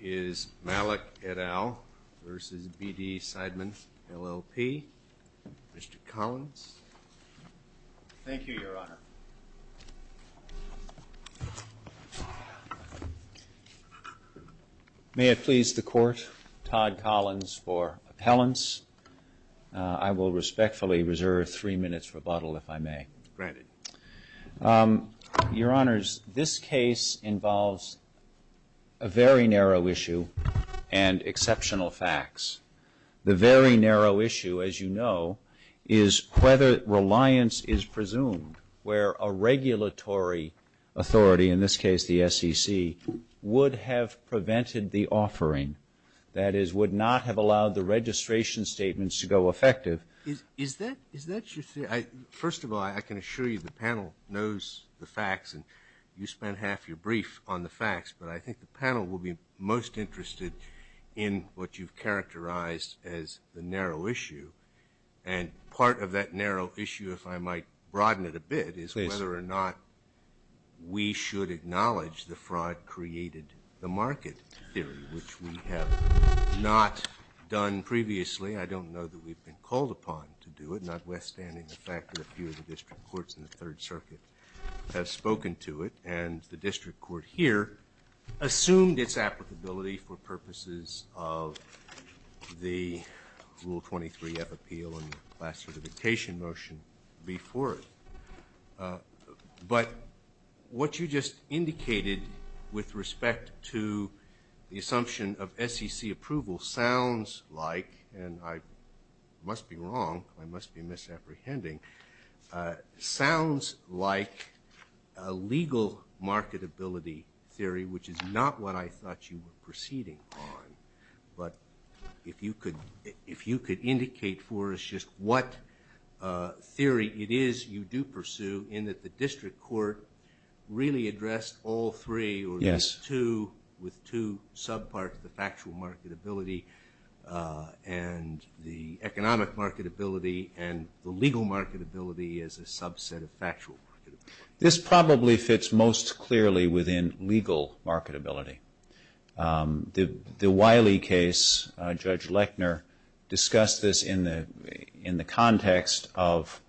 is Malak et al. versus BD Seidman, LLP. Mr. Collins. Thank you, Your Honor. May it please the Court, Todd Collins for appellants. I will respectfully reserve three minutes rebuttal if I may. Granted. Your Honors, this case involves a very narrow range of questions issue and exceptional facts. The very narrow issue, as you know, is whether reliance is presumed where a regulatory authority, in this case the SEC, would have prevented the offering. That is, would not have allowed the registration statements to go effective. Is that, is that you're saying? First of all, I can assure you the panel knows the facts and you spent half your brief on the facts, but I think the panel will be most interested in what you've characterized as the narrow issue. And part of that narrow issue, if I might broaden it a bit, is whether or not we should acknowledge the fraud created the market theory, which we have not done previously. I don't know that we've been called upon to do it, notwithstanding the fact that a few of the district courts in the Third Circuit have spoken to it, and the district court here assumed its applicability for purposes of the Rule 23 F appeal and classification motion before it. But what you just indicated with respect to the assumption of SEC approval sounds like, and I must be wrong, I must be right, a legal marketability theory, which is not what I thought you were proceeding on. But if you could, if you could indicate for us just what theory it is you do pursue in that the district court really addressed all three, or these two, with two subparts, the factual marketability and the economic marketability and the legal marketability as a subset of factual marketability. This probably fits most clearly within legal marketability. The Wiley case, Judge Lechner discussed this in the context of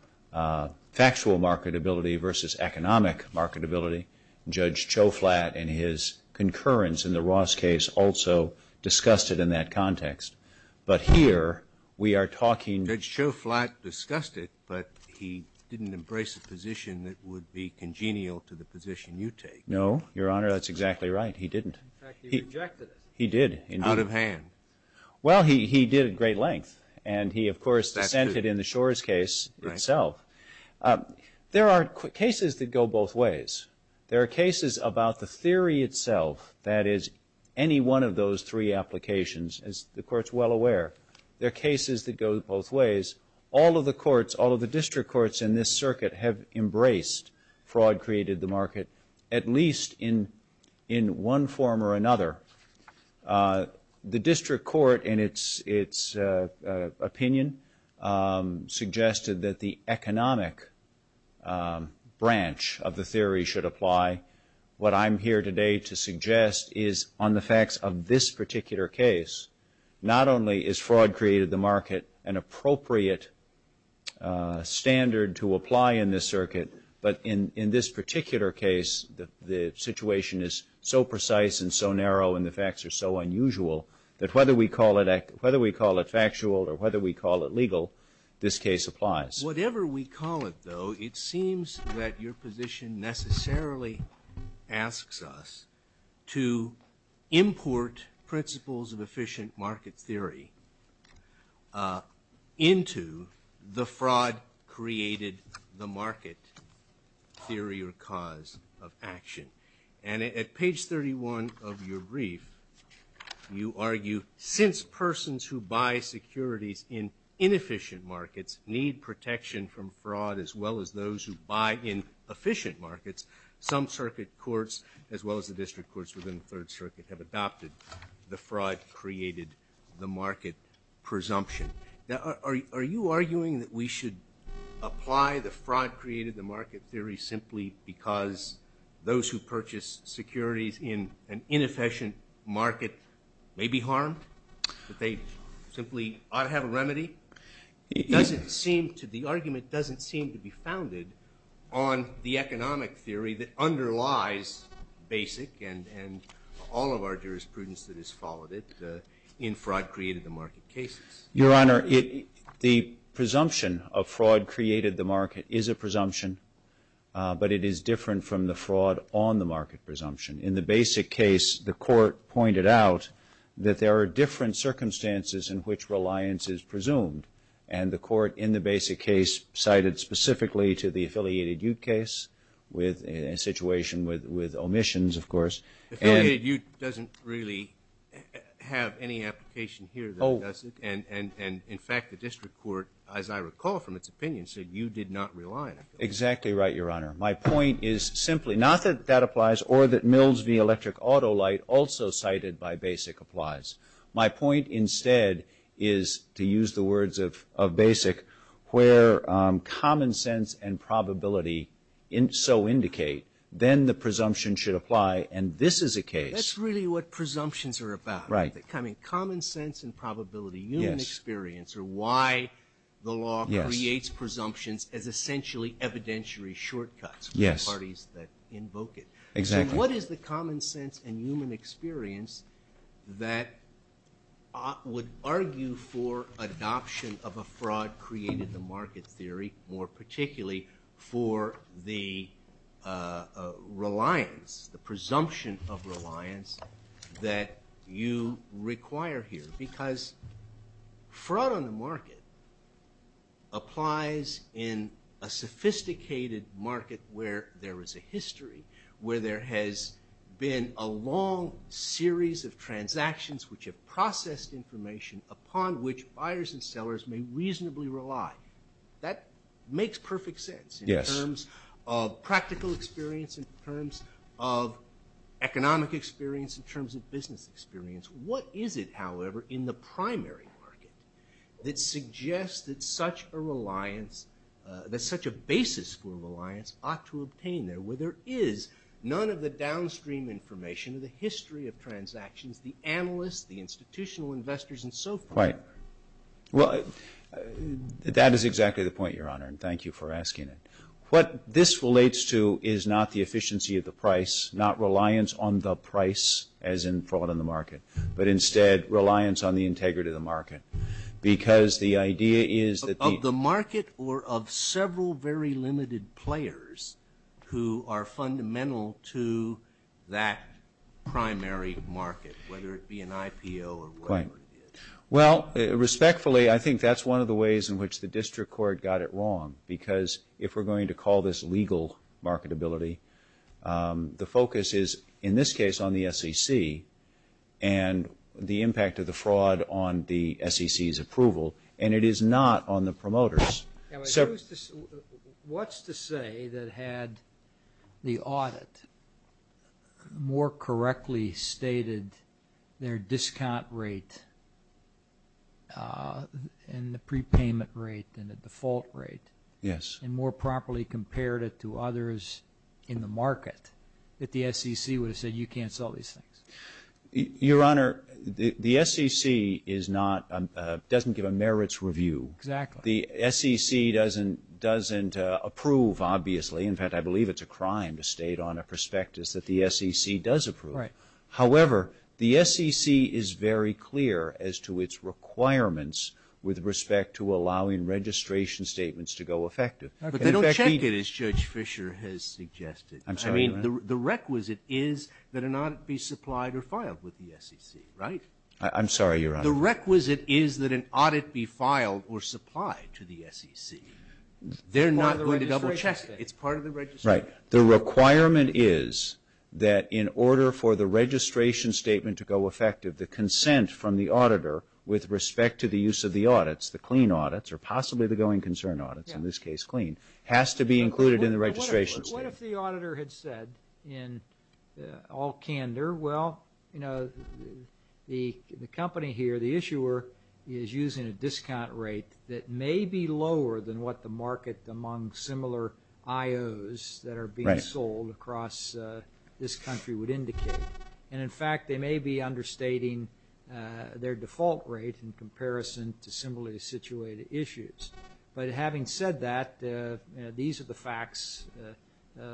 factual marketability versus economic marketability. Judge Choflat and his concurrence in the Ross case also discussed it in that context. But here we are talking about the fact that Judge Choflat discussed it, but he didn't embrace a position that would be congenial to the position you take. No, Your Honor. That's exactly right. He didn't. In fact, he rejected it. He did, indeed. Out of hand. Well, he did at great length. And he, of course, dissented in the Shores case itself. There are cases that go both ways. There are cases about the theory itself, that is, any one of those three applications, as the Court's well aware. There are cases that go both ways. All of the courts, all of the district courts in this circuit have embraced fraud created the market, at least in one form or another. The district court in its opinion suggested that the economic branch of the theory should apply. What I'm here today to suggest is on the facts of this particular case, not only is an appropriate standard to apply in this circuit, but in this particular case, the situation is so precise and so narrow and the facts are so unusual that whether we call it factual or whether we call it legal, this case applies. Whatever we call it, though, it seems that your position necessarily asks us to import principles of efficient market theory into the fraud created the market theory or cause of action. And at page 31 of your brief, you argue, since persons who buy securities in inefficient markets need protection from fraud as well as those who buy in efficient markets, some circuit courts as well as the district courts within the Third Circuit have adopted the fraud created the market presumption. Now, are you arguing that we should apply the fraud created the market theory simply because those who purchase securities in an inefficient market may be harmed, that they simply ought to have a remedy? It doesn't seem to, the argument doesn't seem to be founded on the economic theory that underlies BASIC and all of our jurisprudence that has followed it in fraud created the market cases. Your Honor, the presumption of fraud created the market is a presumption, but it is different from the fraud on the market presumption. In the BASIC case, the court pointed out that there are different circumstances in which reliance is presumed. And the court in the BASIC case cited specifically to the Affiliated Ute case with a situation with omissions, of course. The Affiliated Ute doesn't really have any application here, does it? And in fact, the district court, as I recall from its opinion, said you did not rely on it. Exactly right, Your Honor. My point is simply not that that applies or that Mills v. Electric Auto Light also cited by BASIC applies. My point instead is, to use the words of BASIC, where common sense and probability so indicate, then the presumption should apply, and this is a case. That's really what presumptions are about. Right. I mean, common sense and probability, human experience are why the law creates presumptions as essentially evidentiary shortcuts for the parties that invoke it. Exactly. What is the common sense and human experience that would argue for adoption of a fraud created the market theory, more particularly for the reliance, the presumption of reliance that you require here? Because fraud on the market applies in a sophisticated market where there is a history, where there has been a long series of transactions which have processed information upon which buyers and sellers may reasonably rely. That makes perfect sense in terms of practical experience, in terms of economic experience, in terms of business experience. What is it, however, in the primary market that suggests that such a reliance, that such a basis for reliance ought to obtain there, where there is none of the downstream information, the history of transactions, the analysts, the institutional investors, and so forth? Right. Well, that is exactly the point, Your Honor, and thank you for asking it. What this relates to is not the efficiency of the price, not reliance on the price as in fraud on the market, but instead reliance on the integrity of the market. Because the idea is that the market or of several very limited players who are fundamental to that primary market, whether it be an IPO or whatever it is. Right. Well, respectfully, I think that is one of the ways in which the district court got it wrong, because if we are going to call this legal marketability, the focus is, in this case, on the SEC and the impact of the fraud on the SEC's approval, and it is not on the promoters. What is to say that had the audit more correctly stated their discount rate and the prepayment rate than the default rate, and more properly compared it to others in the market, that the SEC would have said, you can't sell these things? Your Honor, the SEC is not, doesn't give a merits review. Exactly. The SEC doesn't approve, obviously. In fact, I believe it's a crime to state on a prospectus that the SEC does approve. Right. However, the SEC is very clear as to its requirements with respect to allowing registration statements to go effective. But they don't check it, as Judge Fischer has suggested. I'm sorry, Your Honor. The requisite is that an audit be supplied or filed with the SEC, right? I'm sorry, Your Honor. The requisite is that an audit be filed or supplied to the SEC. They're not going to double check it. It's part of the registration. The requirement is that in order for the registration statement to go effective, the consent from the auditor with respect to the use of the audits, the clean audits, or possibly the going concern audits, in this case clean, has to be included in the registration statement. What if the auditor had said in all candor, well, you know, the company here, the issuer is using a discount rate that may be lower than what the market among similar IOs that are being sold across this country would indicate. And in fact, they may be understating their default rate in comparison to similarly situated issues. But having said that, these are the issues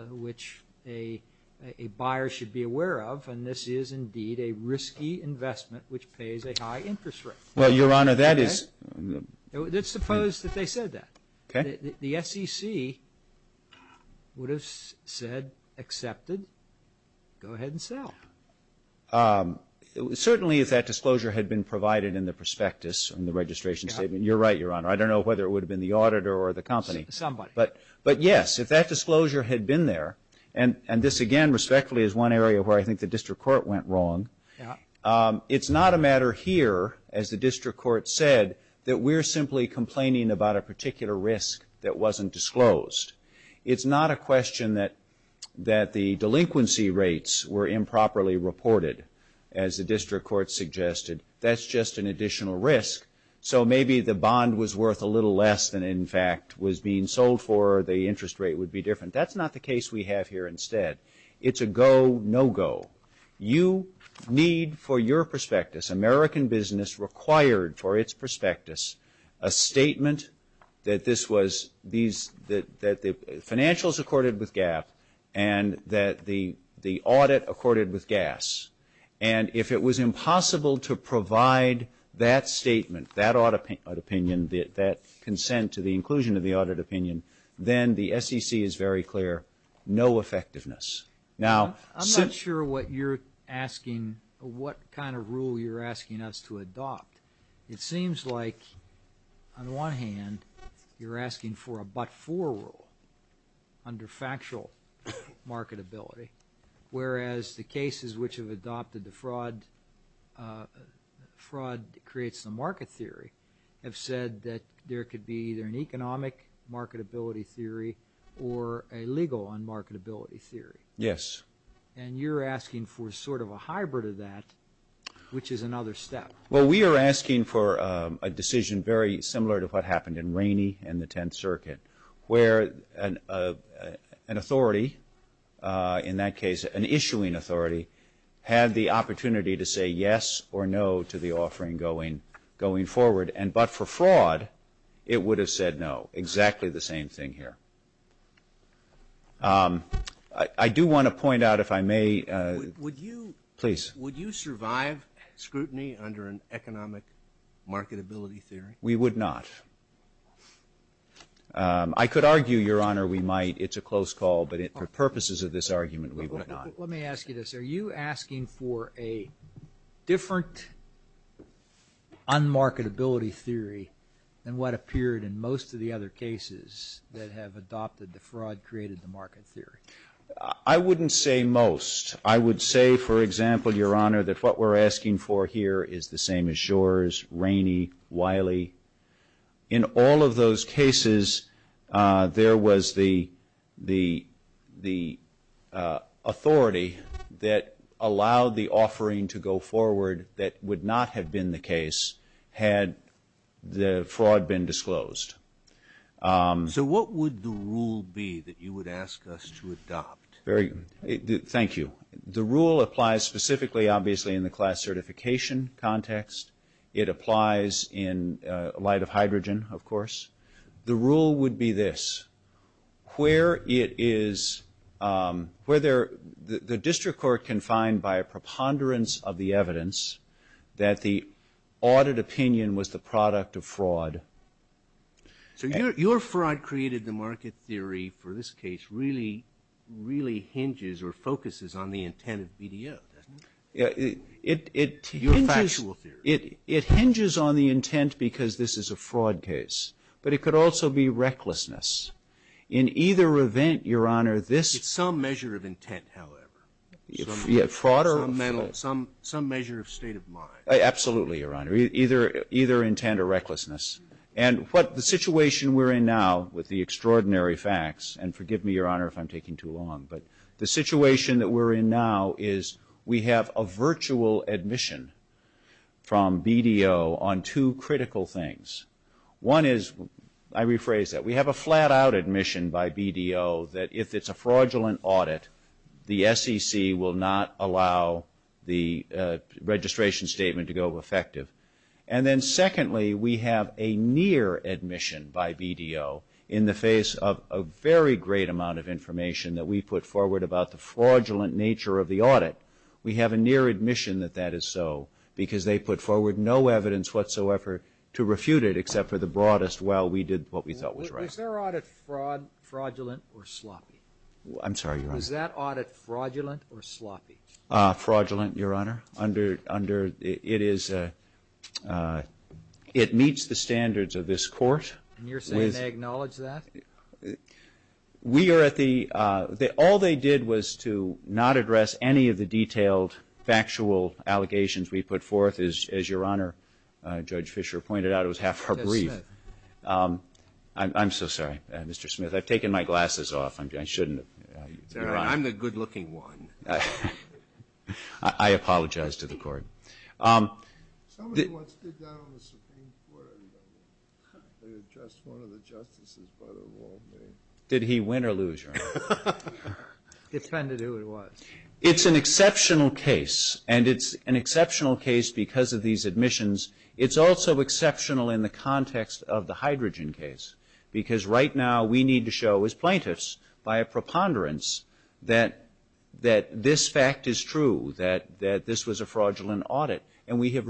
which a buyer should be aware of, and this is indeed a risky investment which pays a high interest rate. Well, Your Honor, that is... Let's suppose that they said that. The SEC would have said, accepted, go ahead and sell. Certainly if that disclosure had been provided in the prospectus in the registration statement. You're right, Your Honor. I don't know whether it would have been the auditor or the company. Somebody. But yes, if that disclosure had been there, and this again respectfully is one area where I think the district court went wrong, it's not a matter here, as the district court said, that we're simply complaining about a particular risk that wasn't disclosed. It's not a question that the delinquency rates were improperly reported, as the district court suggested. That's just an additional risk. So maybe the bond was worth a little less than in fact was being sold for, the interest rate would be different. That's not the case we have here instead. It's a go, no go. You need for your prospectus, American business required for its prospectus, a statement that this was, that the financials accorded with GAAP and that the audit accorded with GAAS. And if it was impossible to provide that statement, that audit opinion, that consent to the inclusion of the audit opinion, then the SEC is very clear, no effectiveness. Now, I'm not sure what you're asking, what kind of rule you're asking us to adopt. It seems like on one hand, you're asking for a but-for rule under factual marketability, whereas the cases which have adopted the fraud, fraud creates the market theory, have said that there could be either an economic marketability theory or a legal on marketability theory. Yes. And you're asking for sort of a hybrid of that, which is another step. Well, we are asking for a decision very similar to what happened in Rainey and the Tenth Circuit, where an authority, in that case an issuing authority, had the opportunity to say yes or no to the offering going forward. But for fraud, it would have said no, exactly the same thing here. I do want to point out, if I may, please. Would you survive scrutiny under an economic marketability theory? We would not. I could argue, Your Honor, we might. It's a close call, but for purposes of this argument, we would not. Let me ask you this. Are you asking for a different on marketability theory than what appeared in most of the other cases that have adopted the fraud, created the market theory? I wouldn't say most. I would say, for example, Your Honor, that what we're asking for here is the same as Shor's, Rainey, Wiley. In all of those cases, there was the authority that had the authority to that allowed the offering to go forward that would not have been the case had the fraud been disclosed. So what would the rule be that you would ask us to adopt? Thank you. The rule applies specifically, obviously, in the class certification context. It applies in light of hydrogen, of course. The rule would be this. Where it is, where the district court can find by a preponderance of the evidence that the audit opinion was the product of fraud. So your fraud created the market theory for this case really, really hinges or focuses on the intent of BDO, doesn't it? Your factual theory. It hinges on the intent because this is a fraud case, but it could also be recklessness. In either event, Your Honor. Fraud or? Some measure of state of mind. Absolutely, Your Honor. Either intent or recklessness. And what the situation we're in now with the extraordinary facts, and forgive me, Your Honor, if I'm taking too long, but the situation that we're in now is we have a virtual admission from BDO on two critical things. One is, I rephrase that, we have a near admission that the SEC will not allow the registration statement to go effective. And then secondly, we have a near admission by BDO in the face of a very great amount of information that we put forward about the fraudulent nature of the audit. We have a near admission that that is so because they put forward no evidence whatsoever to refute it except for the broadest, well, we did what we thought was right. Was their audit fraudulent or sloppy? I'm sorry, Your Honor. Was that audit fraudulent or sloppy? Fraudulent, Your Honor. Under, it is, it meets the standards of this court. And you're saying they acknowledge that? We are at the, all they did was to not address any of the detailed factual allegations we put forth, as Your Honor, Judge Fischer pointed out, it was half a brief. I'm so sorry, Mr. Smith. I've taken my glasses off. I shouldn't have. I'm the good looking one. I apologize to the court. Somebody once did that on the Supreme Court. They addressed one of the justices by the wrong name. Did he win or lose, Your Honor? It depended who it was. It's an exceptional case and it's an exceptional case because of these admissions. It's also exceptional in the context of the hydrogen case because right now we need to show as plaintiffs by a preponderance that this fact is true, that this was a fraudulent audit. And we have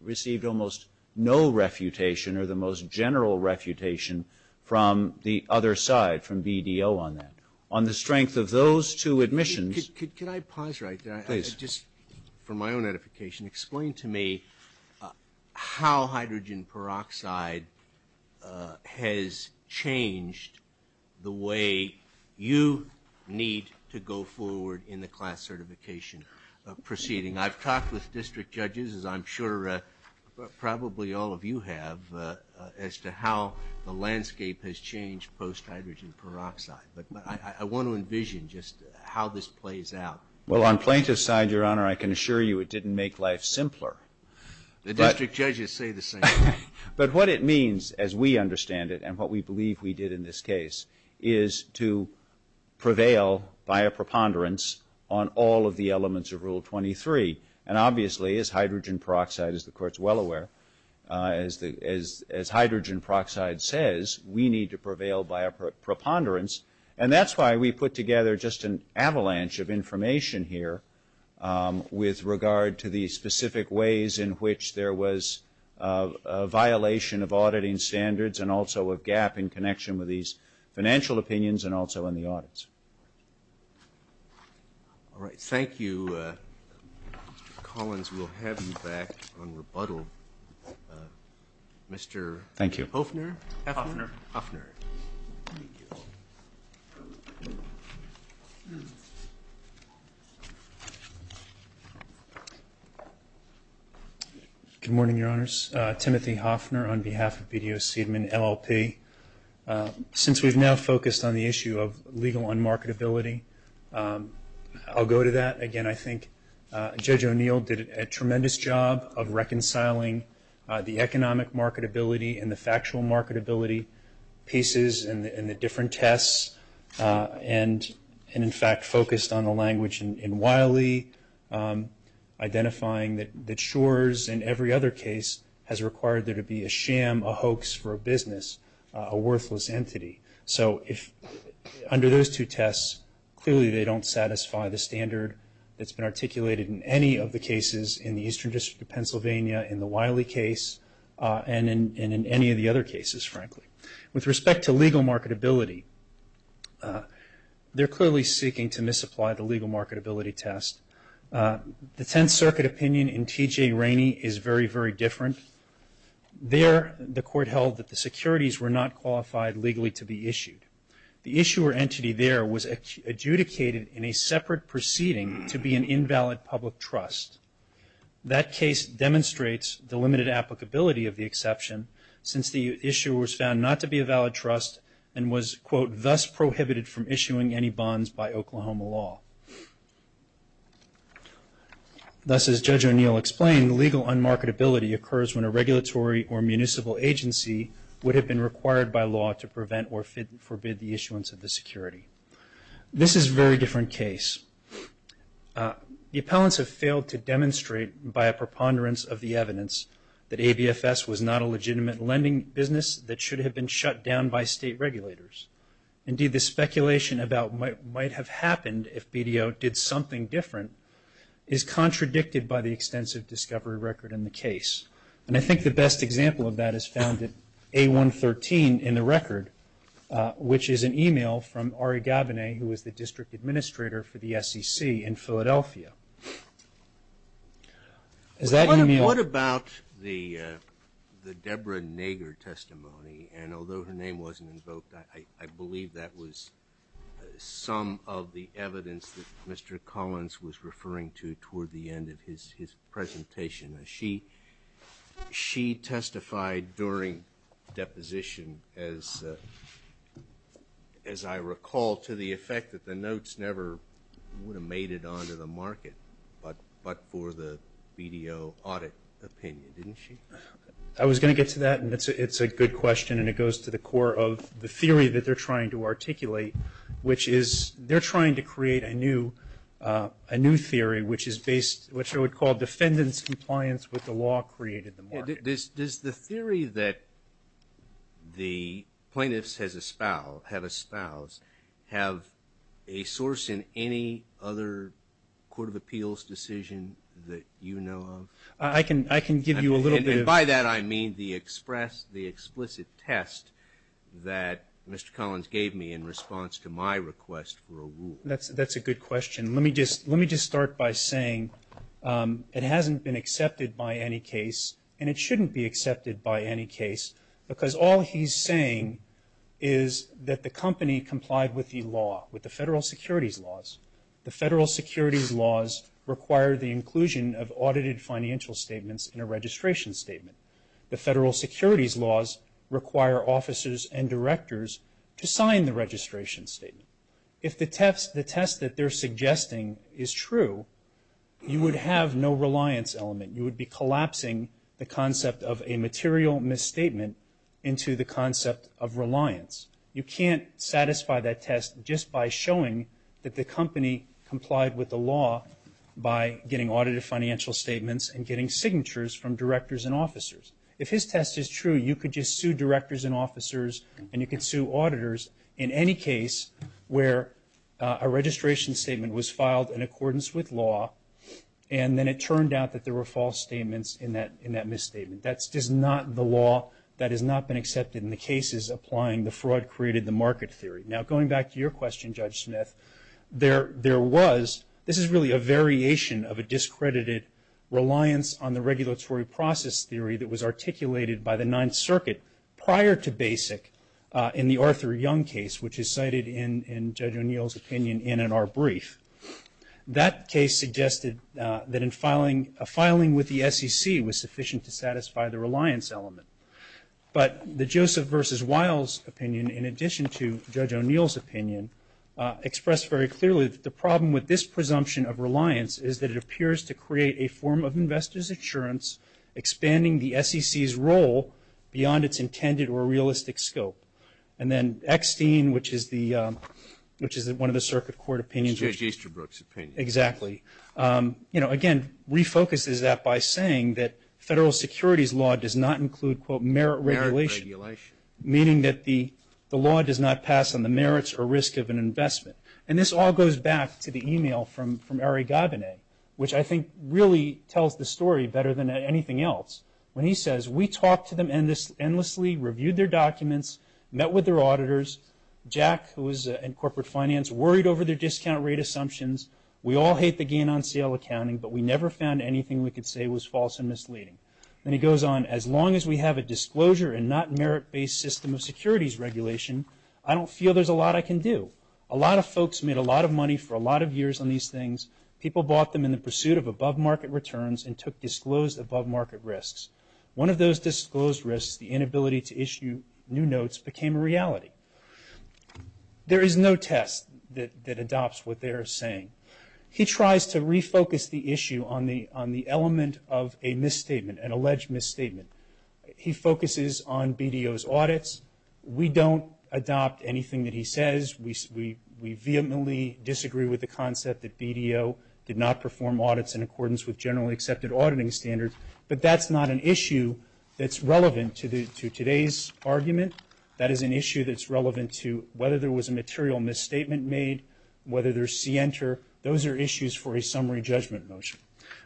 received almost no refutation or the most general refutation from the other side, from BDO on that. On the strength of those two admissions. Could I pause right there? Please. Just for my own edification, explain to me how hydrogen peroxide has changed the way you need to go forward in the class certification proceeding. I've talked with district judges, as I'm sure probably all of you have, as to how the landscape has changed post-hydrogen peroxide. But I want to envision just how this plays out. Well, on plaintiff's side, Your Honor, I can assure you it didn't make life simpler. The district judges say the same thing. But what it means, as we understand it and what we believe we did in this case, is to prevail by a preponderance on all of the elements of Rule 23. And obviously, as hydrogen peroxide, as the Court's well aware, as hydrogen peroxide says, we need to prevail by a preponderance. And that's why we put together just an avalanche of information here with regard to the specific ways in which there was a violation of auditing standards and also a gap in connection with these financial opinions and also in the audits. All right. Thank you. Mr. Collins, we'll have you back on rebuttal. Mr. Hoefner? Hoefner. Good morning, Your Honors. Timothy Hoefner on behalf of BDO Seidman, LLP. Since we've now focused on the issue of legal unmarketability, I'll go to that. Again, I think Judge O'Neill did a tremendous job of reconciling the economic marketability and the factual marketability pieces in the different tests and, in fact, focused on the language in Wiley, identifying that Shores, in every other case, has required there to be a sham, a hoax for a business, a worthless entity. So under those two tests, clearly they don't satisfy the standard that's used in most cases in the Eastern District of Pennsylvania, in the Wiley case, and in any of the other cases, frankly. With respect to legal marketability, they're clearly seeking to misapply the legal marketability test. The Tenth Circuit opinion in T.J. Rainey is very, very different. There, the Court held that the securities were not qualified legally to be issued. The issuer entity there was adjudicated in a separate proceeding to be an invalid public trust. That case demonstrates the limited applicability of the exception, since the issuer was found not to be a valid trust and was, quote, thus prohibited from issuing any bonds by Oklahoma law. Thus as Judge O'Neill explained, legal unmarketability occurs when a regulatory or municipal agency would have been required by law to prevent or forbid the issuance of the security. This is a very different case. The appellants have failed to demonstrate by a preponderance of the evidence that ABFS was not a legitimate lending business that should have been shut down by state regulators. Indeed, the speculation about what might have happened if BDO did something different is contradicted by the extensive discovery record in the case. And I think the best example of that is found at A113 in the record, which is an email from Ari Gabonet, who is the District Administrator for the SEC in Philadelphia. Is that email? What about the Deborah Nager testimony? And although her name wasn't invoked, I believe that was some of the evidence that Mr. Collins was referring to toward the end of his presentation. She testified during deposition, as I recall, to the effect that the notes never would have made it onto the market, but for the BDO audit opinion, didn't she? I was going to get to that, and it's a good question, and it goes to the core of the theory that they're trying to articulate, which is they're trying to create a new theory, which is based, which I would call defendant's compliance with the law created in the market. Does the theory that the plaintiffs have espoused have a source in any other Court of Appeals decision that you know of? I can give you a little bit of... And by that, I mean the explicit test that Mr. Collins gave me in response to my request for a rule. That's a good question. Let me just start by saying it hasn't been accepted by any case, and it shouldn't be accepted by any case, because all he's saying is that the company complied with the law, with the federal securities laws. The federal securities laws require the inclusion of audited financial statements in a registration statement. The federal securities laws require officers and directors to sign the registration statement. If the test that they're suggesting is true, you would have no reliance element. You would be collapsing the concept of a material misstatement into the concept of reliance. You can't satisfy that test just by showing that the company complied with the law by getting audited financial statements and getting signatures from directors and officers. If his test is true, you could just sue directors and officers, and you could sue auditors in any case where a registration statement was filed in accordance with law, and then it turned out that there were false statements in that misstatement. That's just not the law. That has not been accepted in the cases applying the fraud created the market theory. Now going back to your question, Judge Smith, there was... This is really a variation of discredited reliance on the regulatory process theory that was articulated by the Ninth Circuit prior to BASIC in the Arthur Young case, which is cited in Judge O'Neill's opinion and in our brief. That case suggested that a filing with the SEC was sufficient to satisfy the reliance element. But the Joseph versus Wiles opinion, in addition to Judge O'Neill's opinion, expressed very clearly that the problem with this presumption of reliance is that it appears to create a form of investor's insurance, expanding the SEC's role beyond its intended or realistic scope. And then Eckstein, which is one of the Circuit Court opinions... It's Judge Easterbrook's opinion. Exactly. You know, again, refocuses that by saying that federal securities law does not include, quote, merit regulation, meaning that the law does not pass on the merits or risk of an investment. And this all goes back to the email from Ari Gabine, which I think really tells the story better than anything else, when he says, we talked to them endlessly, reviewed their documents, met with their auditors. Jack, who was in corporate finance, worried over their discount rate assumptions. We all hate the gain on sale accounting, but we never found anything we could say was false and misleading. And he goes on, as long as we have a disclosure and not merit-based system of securities regulation, I don't feel there's a lot I can do. A lot of folks made a lot of money for a lot of years on these things. People bought them in the pursuit of above-market returns and took disclosed above-market risks. One of those disclosed risks, the inability to issue new notes, became a reality. There is no test that adopts what they are saying. He tries to refocus the issue on the element of a misstatement, an alleged misstatement. He focuses on BDO's audits. We don't adopt anything that he says. We vehemently disagree with the concept that BDO did not perform audits in accordance with generally accepted auditing standards. But that's not an issue that's relevant to today's argument. That is an issue that's relevant to whether there was a material misstatement made, whether there's c-enter. Those are issues for a summary judgment motion.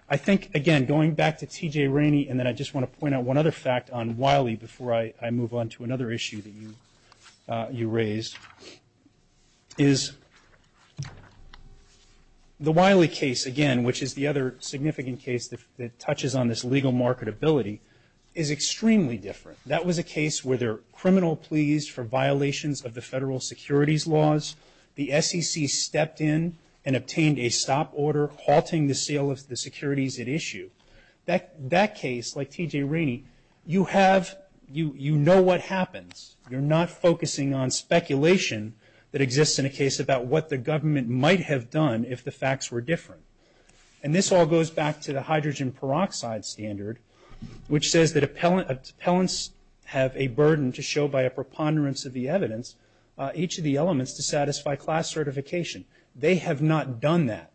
I think, again, going back to T.J. Rainey, and then I just want to point out one other fact on Wiley before I move on to another issue that you raised, is the Wiley case, again, which is the other significant case that touches on this legal marketability, is extremely different. That was a case where there were criminal pleas for violations of the federal securities laws. The SEC stepped in and obtained a stop order halting the sale of the securities at issue. That case, like what happens, you're not focusing on speculation that exists in a case about what the government might have done if the facts were different. And this all goes back to the hydrogen peroxide standard, which says that appellants have a burden to show by a preponderance of the evidence each of the elements to satisfy class certification. They have not done that.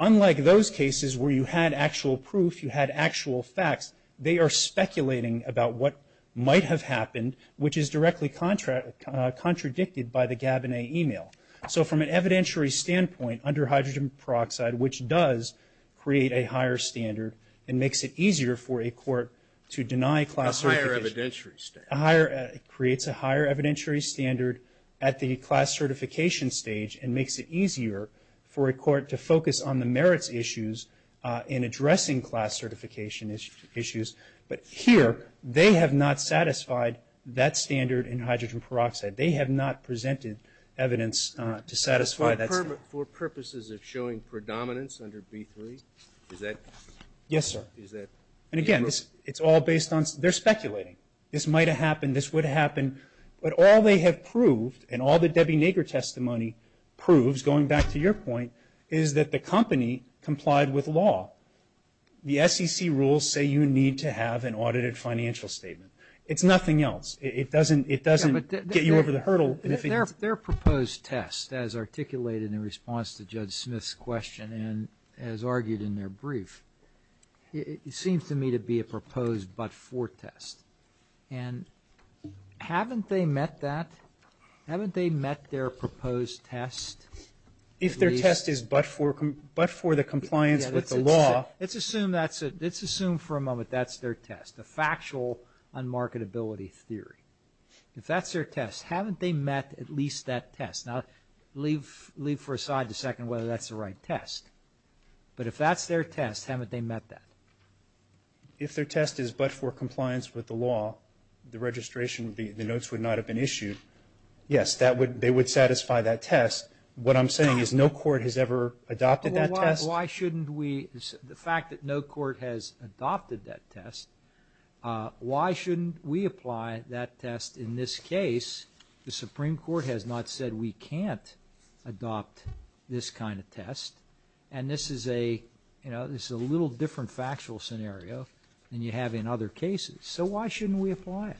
Unlike those cases where you had actual proof, you had actual facts, they are speculating about what might have happened, which is directly contradicted by the Gabinet email. So from an evidentiary standpoint, under hydrogen peroxide, which does create a higher standard and makes it easier for a court to deny class certification. A higher evidentiary standard. A higher, creates a higher evidentiary standard at the class certification stage and makes it easier for a court to focus on the merits issues in addressing class certification issues. But here, they have not satisfied that standard in hydrogen peroxide. They have not presented evidence to satisfy that standard. For purposes of showing predominance under B3, is that? Yes, sir. Is that? And again, it's all based on, they're speculating. This might have happened, this would have happened. But all they have proved, and all the Debbie Nager testimony proves, going back to your point, is that the company complied with law. The SEC rules say you need to have an audited financial statement. It's nothing else. It doesn't get you over the hurdle. Their proposed test, as articulated in response to Judge Smith's question, and as argued in their brief, it seems to me to be a proposed but-for test. And haven't they met that? Haven't they met their proposed test? If their test is but-for the compliance with the law... Let's assume for a moment that's their test, a factual unmarketability theory. If that's their test, haven't they met at least that test? Now, leave for a second whether that's the right test. But if that's their test, haven't they met that? If their test is but-for compliance with the law, the registration, the notes would not have been issued. Yes, they would satisfy that test. What I'm saying is no court has ever adopted that test. Why shouldn't we, the fact that no court has adopted that test, why shouldn't we apply that test in this case? The Supreme Court has not said we can't adopt this kind of test. And this is a, you know, this is a little different factual scenario than you have in other cases. So why shouldn't we apply it?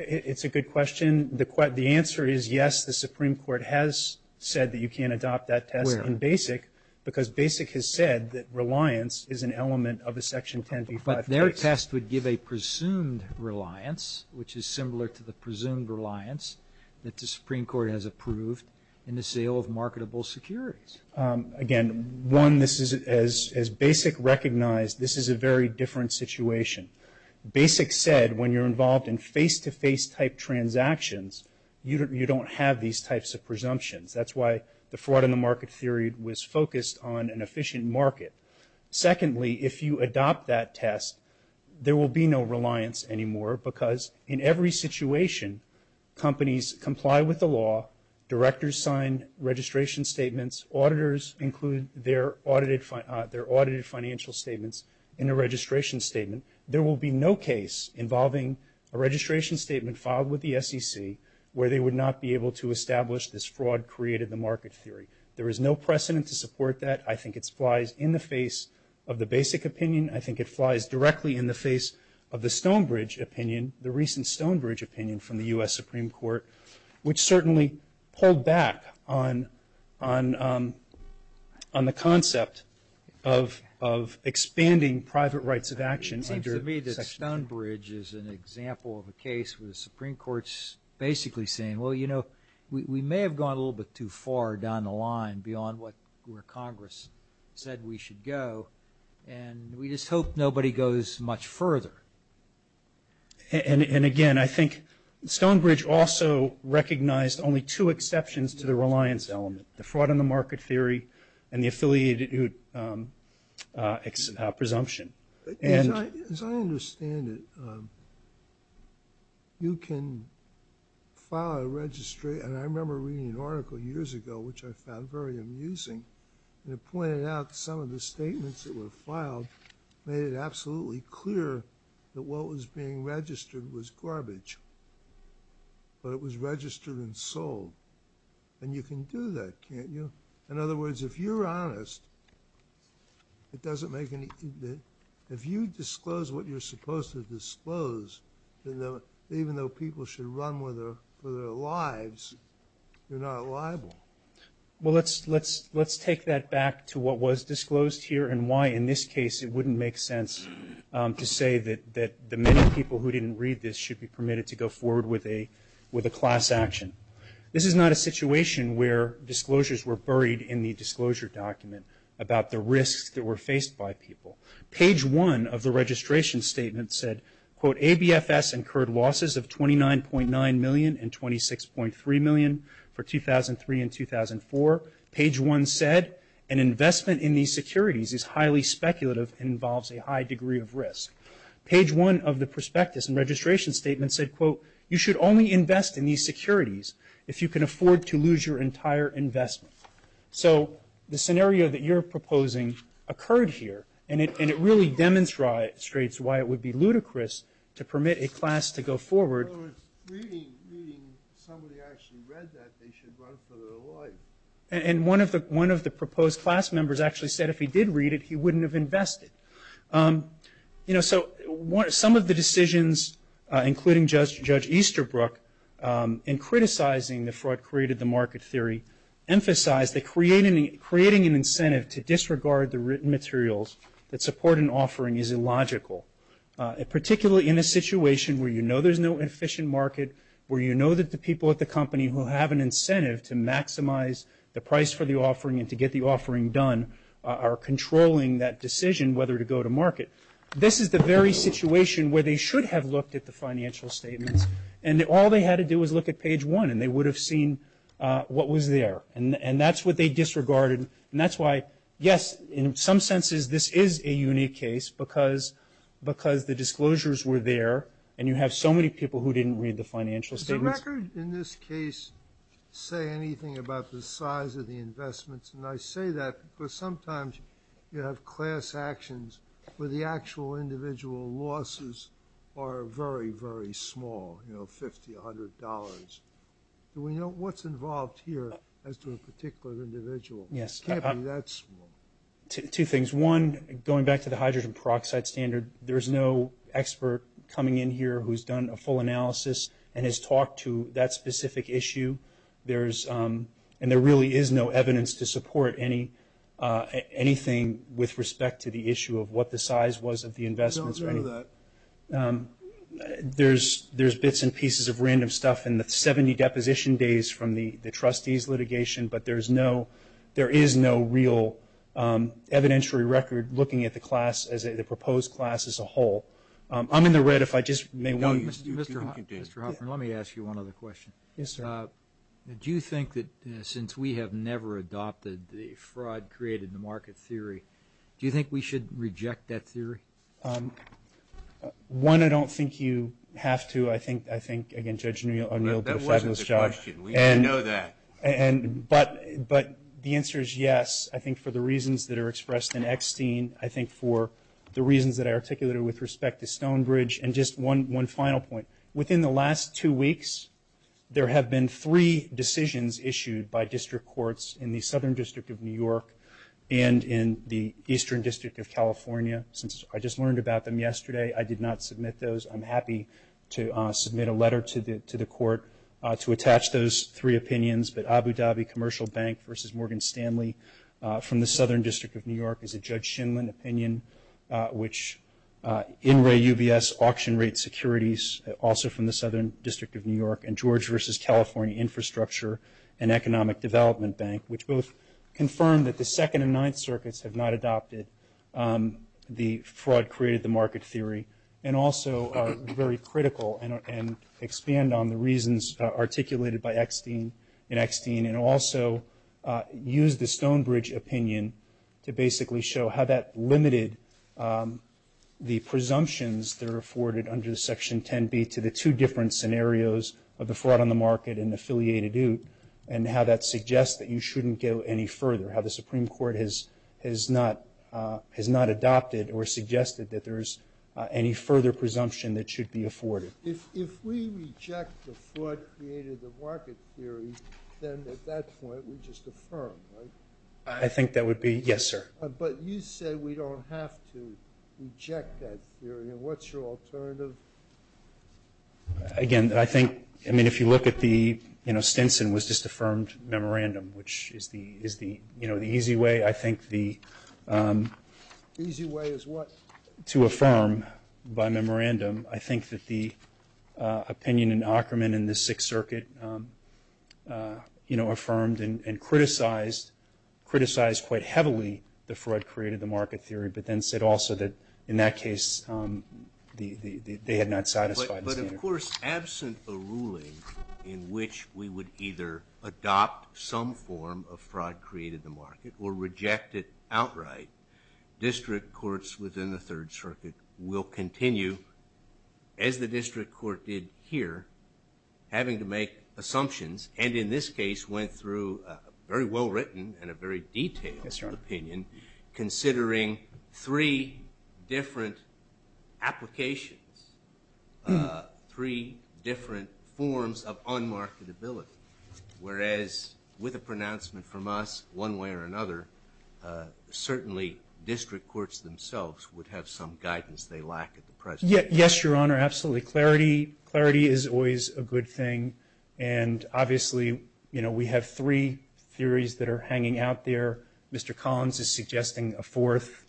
It's a good question. The answer is yes, the Supreme Court has said that you can adopt that test in BASIC because BASIC has said that reliance is an element of a section 10b-5 case. But their test would give a presumed reliance, which is similar to the presumed reliance that the Supreme Court has approved in the sale of marketable securities. Again, one, this is, as BASIC recognized, this is a very different situation. BASIC said when you're involved in face-to-face type transactions, you don't have these types of presumptions. That's why the fraud in the market theory was focused on an efficient market. Secondly, if you adopt that test, there will be no reliance anymore because in every situation, companies comply with the law, directors sign registration statements, auditors include their auditors, involving a registration statement filed with the SEC where they would not be able to establish this fraud created the market theory. There is no precedent to support that. I think it flies in the face of the BASIC opinion. I think it flies directly in the face of the Stonebridge opinion, the recent Stonebridge opinion from the U.S. Supreme Court, which certainly pulled back on the concept of expanding private rights of action under section 10b-5. Stonebridge is an example of a case where the Supreme Court's basically saying, well, you know, we may have gone a little bit too far down the line beyond where Congress said we should go, and we just hope nobody goes much further. And again, I think Stonebridge also recognized only two exceptions to the reliance element, the fraud in the market theory and the affiliated presumption. As I understand it, you can file a registry, and I remember reading an article years ago, which I found very amusing, and it pointed out some of the statements that were filed made it absolutely clear that what was being registered was garbage, but it was registered and sold. And you can do that, can't you? In other words, if you're honest, it doesn't make any – if you disclose what you're supposed to disclose, even though people should run for their lives, you're not liable. Well, let's take that back to what was disclosed here and why, in this case, it wouldn't make sense to say that the many people who didn't read this should be permitted to go forward with a class action. This is not a situation where disclosures were buried in the disclosure document about the risks that were faced by people. Page 1 of the registration statement said, quote, ABFS incurred losses of $29.9 million and $26.3 million for 2003 and 2004. Page 1 said, an investment in these securities is highly speculative and involves a high degree of risk. Page 1 of the prospectus and registration statement said, quote, you should only invest in these securities if you can afford to lose your entire investment. So the scenario that you're proposing occurred here, and it really demonstrates why it would be ludicrous to permit a class to go forward – In other words, reading somebody actually read that, they should run for their life. And one of the proposed class members actually said if he did read it, he wouldn't have And criticizing the fraud created the market theory emphasized that creating an incentive to disregard the written materials that support an offering is illogical, particularly in a situation where you know there's no efficient market, where you know that the people at the company who have an incentive to maximize the price for the offering and to get the offering done are controlling that decision whether to go to market. This is the very situation where they should have looked at the financial statements and all they had to do was look at page 1 and they would have seen what was there. And that's what they disregarded, and that's why, yes, in some senses this is a unique case because the disclosures were there and you have so many people who didn't read the financial statements. Did the record in this case say anything about the size of the investments? And I say that because sometimes you have class actions where the actual individual losses are very, very small, you know, $50, $100. Do we know what's involved here as to a particular individual? Yes. It can't be that small. Two things. One, going back to the hydrogen peroxide standard, there's no expert coming in here who's done a full analysis and has talked to that specific issue. There's – and there really is no evidence to support anything with respect to the issue of what the size was of the investments or anything. I don't know that. There's bits and pieces of random stuff in the 70 deposition days from the trustees' litigation, but there is no real evidentiary record looking at the class as a – the proposed class as a whole. I'm in the red if I just may – No, Mr. Hoffman, let me ask you one other question. Yes, sir. Do you think that since we have never adopted the fraud-created-in-the-market theory, do you think we should reject that theory? One, I don't think you have to. I think – I think, again, Judge O'Neill put a fabulous job – That wasn't the question. We know that. And – but the answer is yes. I think for the reasons that are expressed in Eckstein, I think for the reasons that I articulated with respect to Stonebridge, and just one final point. Within the last two weeks, there have been three decisions issued by district courts in the Southern District of New York and in the Eastern District of California. Since I just learned about them yesterday, I did not submit those. I'm happy to submit a letter to the court to attach those three opinions, but Abu Dhabi Commercial Bank v. Morgan Stanley from the Southern District of New York is a Judge Shinlin opinion, which – In Re UBS, auction rate securities, also from the Southern District of New York, and George v. California Infrastructure and Economic Development Bank, which both confirm that the Second and Ninth Circuits have not adopted the fraud-created-the-market theory, and also are very critical and expand on the reasons articulated by Eckstein in Eckstein and also use the Stonebridge opinion to basically show how that limited the presumptions that are afforded under Section 10B to the two different scenarios of the fraud on the market and affiliated ute, and how that suggests that you shouldn't go any further, how the Supreme Court has not adopted or suggested that there is any further presumption that should be afforded. If we reject the fraud-created-the-market theory, then at that point we just affirm, right? I think that would be – Yes, sir. But you say we don't have to reject that theory, and what's your alternative? Again, I think – I mean, if you look at the – Stinson was just affirmed memorandum, which is the easy way. I think the – Easy way is what? To affirm by memorandum. I think that the opinion in Ackerman in the Sixth Circuit affirmed and criticized quite heavily the fraud-created-the-market theory, but then said also that in that case they had not satisfied the standard. But of course, absent a ruling in which we would either adopt some form of fraud-created-the-market or reject it outright, district courts within the Third Circuit will continue, as the district court did here, having to make assumptions, and in this case went through a very well-written and a very detailed opinion, considering three different applications, three different forms of un-marketability, whereas with a pronouncement from us, one way or another, certainly district courts themselves would have some guidance they lack at the present time. Yes, Your Honor. Absolutely. Clarity is always a good thing, and obviously we have three theories that are hanging out there. Mr. Collins is suggesting a fourth,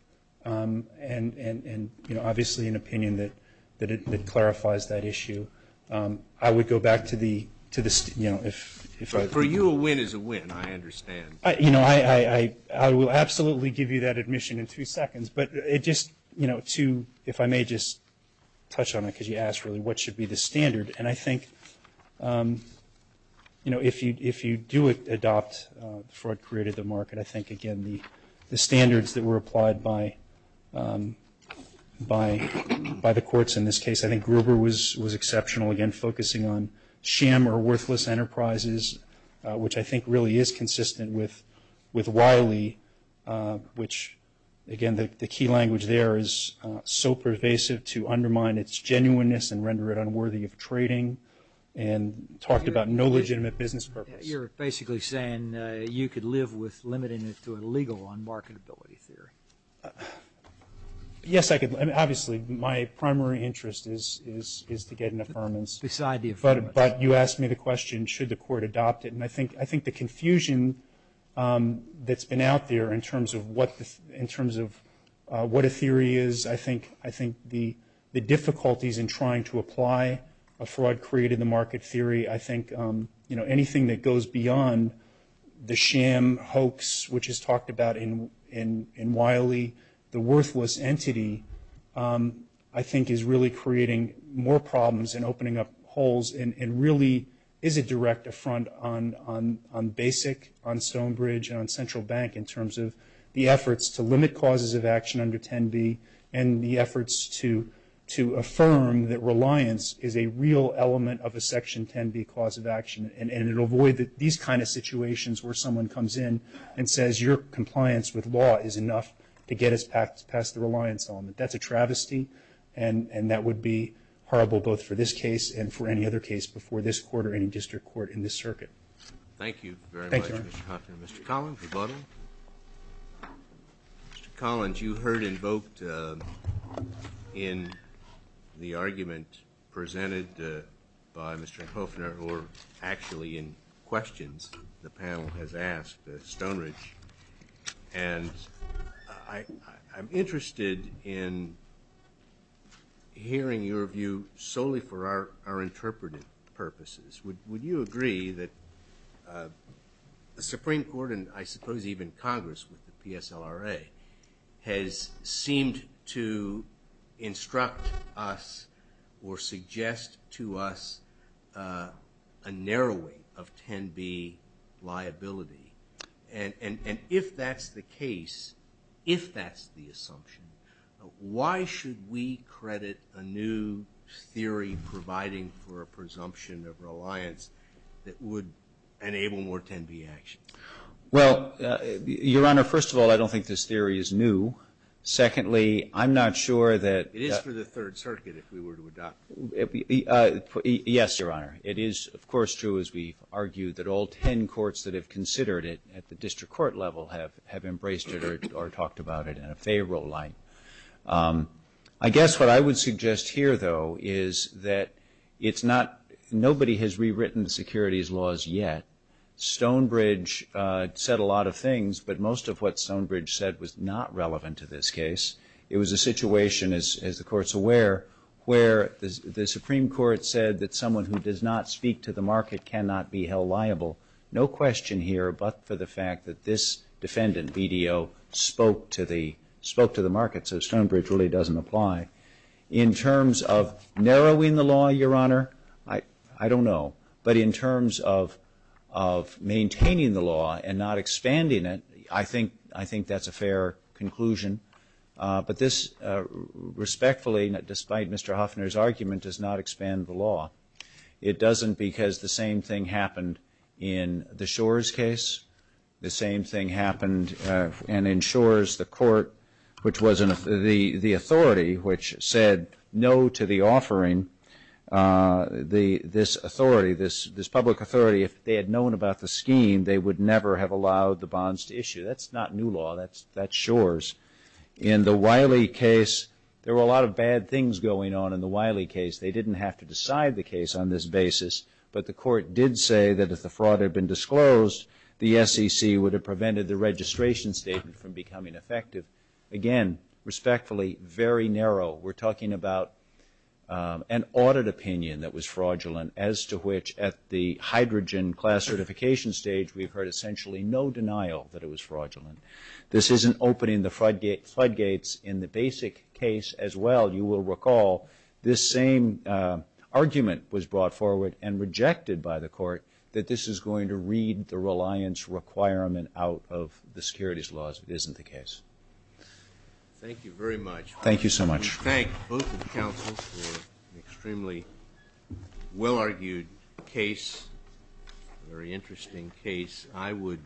and obviously an opinion that clarifies that issue. I would go back to the – For you, a win is a win, I understand. I will absolutely give you that admission in three seconds, but it just – if I may just touch on it, because you asked really what should be the standard. And I think, you know, if you do adopt fraud-created-the-market, I think, again, the standards that were applied by the courts in this case – I think Gruber was exceptional, again, focusing on sham or worthless enterprises, which I think really is consistent with Wiley, which, again, the to undermine its genuineness and render it unworthy of trading, and talked about no legitimate business purpose. You're basically saying you could live with limiting it to a legal unmarketability theory. Yes, I could. Obviously, my primary interest is to get an affirmance. Beside the affirmance. But you asked me the question, should the court adopt it? And I think the confusion that's been out there in terms of what a theory is, I think the difficulties in trying to apply a fraud-created-the-market theory, I think, you know, anything that goes beyond the sham hoax, which is talked about in Wiley, the worthless entity, I think is really creating more problems and opening up holes and really is a direct affront on BASIC, on Stonebridge, and on Central Bank in terms of the efforts to limit causes of to affirm that reliance is a real element of a Section 10B cause of action. And it'll avoid these kind of situations where someone comes in and says your compliance with law is enough to get us past the reliance element. That's a travesty, and that would be horrible both for this case and for any other case before this court or any district court in this circuit. Thank you very much, Mr. Hopkins. Thank you, Your Honor. Mr. Collins, rebuttal. Mr. Collins, you heard invoked in the argument presented by Mr. Hoefner or actually in questions the panel has asked Stonebridge, and I'm interested in hearing your view solely for our interpretive purposes. Would you agree that the Supreme Court and I suppose even Congress with the PSLRA has seemed to instruct us or suggest to us a narrowing of 10B liability? And if that's the case, if that's the assumption, why should we credit a new theory providing for a presumption of reliance that would enable more 10B action? Well, Your Honor, first of all, I don't think this theory is new. Secondly, I'm not sure that... It is for the Third Circuit if we were to adopt it. Yes, Your Honor. It is, of course, true as we've argued that all 10 courts that have considered it at the district court level have embraced it or talked about it in a favorable light. I guess what I would suggest here, though, is that it's not... Nobody has rewritten the securities laws yet. Stonebridge said a lot of things, but most of what Stonebridge said was not relevant to this case. It was a situation, as the Court's aware, where the Supreme Court said that someone who does not speak to the market cannot be held liable. No question here but for the fact that this defendant, BDO, spoke to the market, so Stonebridge really doesn't apply. In terms of narrowing the law, Your Honor, I don't know. But in terms of maintaining the law and not expanding it, I think that's a fair conclusion. But this respectfully, despite Mr. Hoffner's argument, does not expand the law. It doesn't because the same thing happened in the Shores case. The same thing happened in Shores. The Court, which was the authority which said no to the offering, this authority, this public authority, if they had known about the scheme, they would never have allowed the bonds to issue. That's not new law. That's Shores. In the Wiley case, there were a lot of bad things going on in the Wiley case. They didn't have to decide the case on this basis. But the Court did say that if the fraud had been disclosed, the SEC would have prevented the registration statement from becoming effective. Again, respectfully, very narrow. We're talking about an audit opinion that was fraudulent as to which at the hydrogen class certification stage, we've heard essentially no denial that it was fraudulent. This isn't opening the floodgates in the basic case as well. You will recall this same argument was brought forward and rejected by the Court that this is going to read the reliance requirement out of the securities laws. It isn't the case. Thank you very much. Thank you so much. Thank both the counsel for an extremely well-argued case, a very interesting case. I would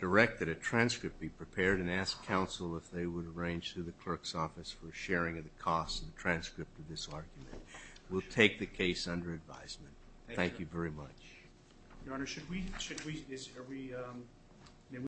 direct that a transcript be prepared and ask counsel if they would arrange through the clerk's office for sharing of the cost of the transcript of this argument. We'll take the case under advisement. Thank you very much. Your Honor, should we, should we, is, are we, may we?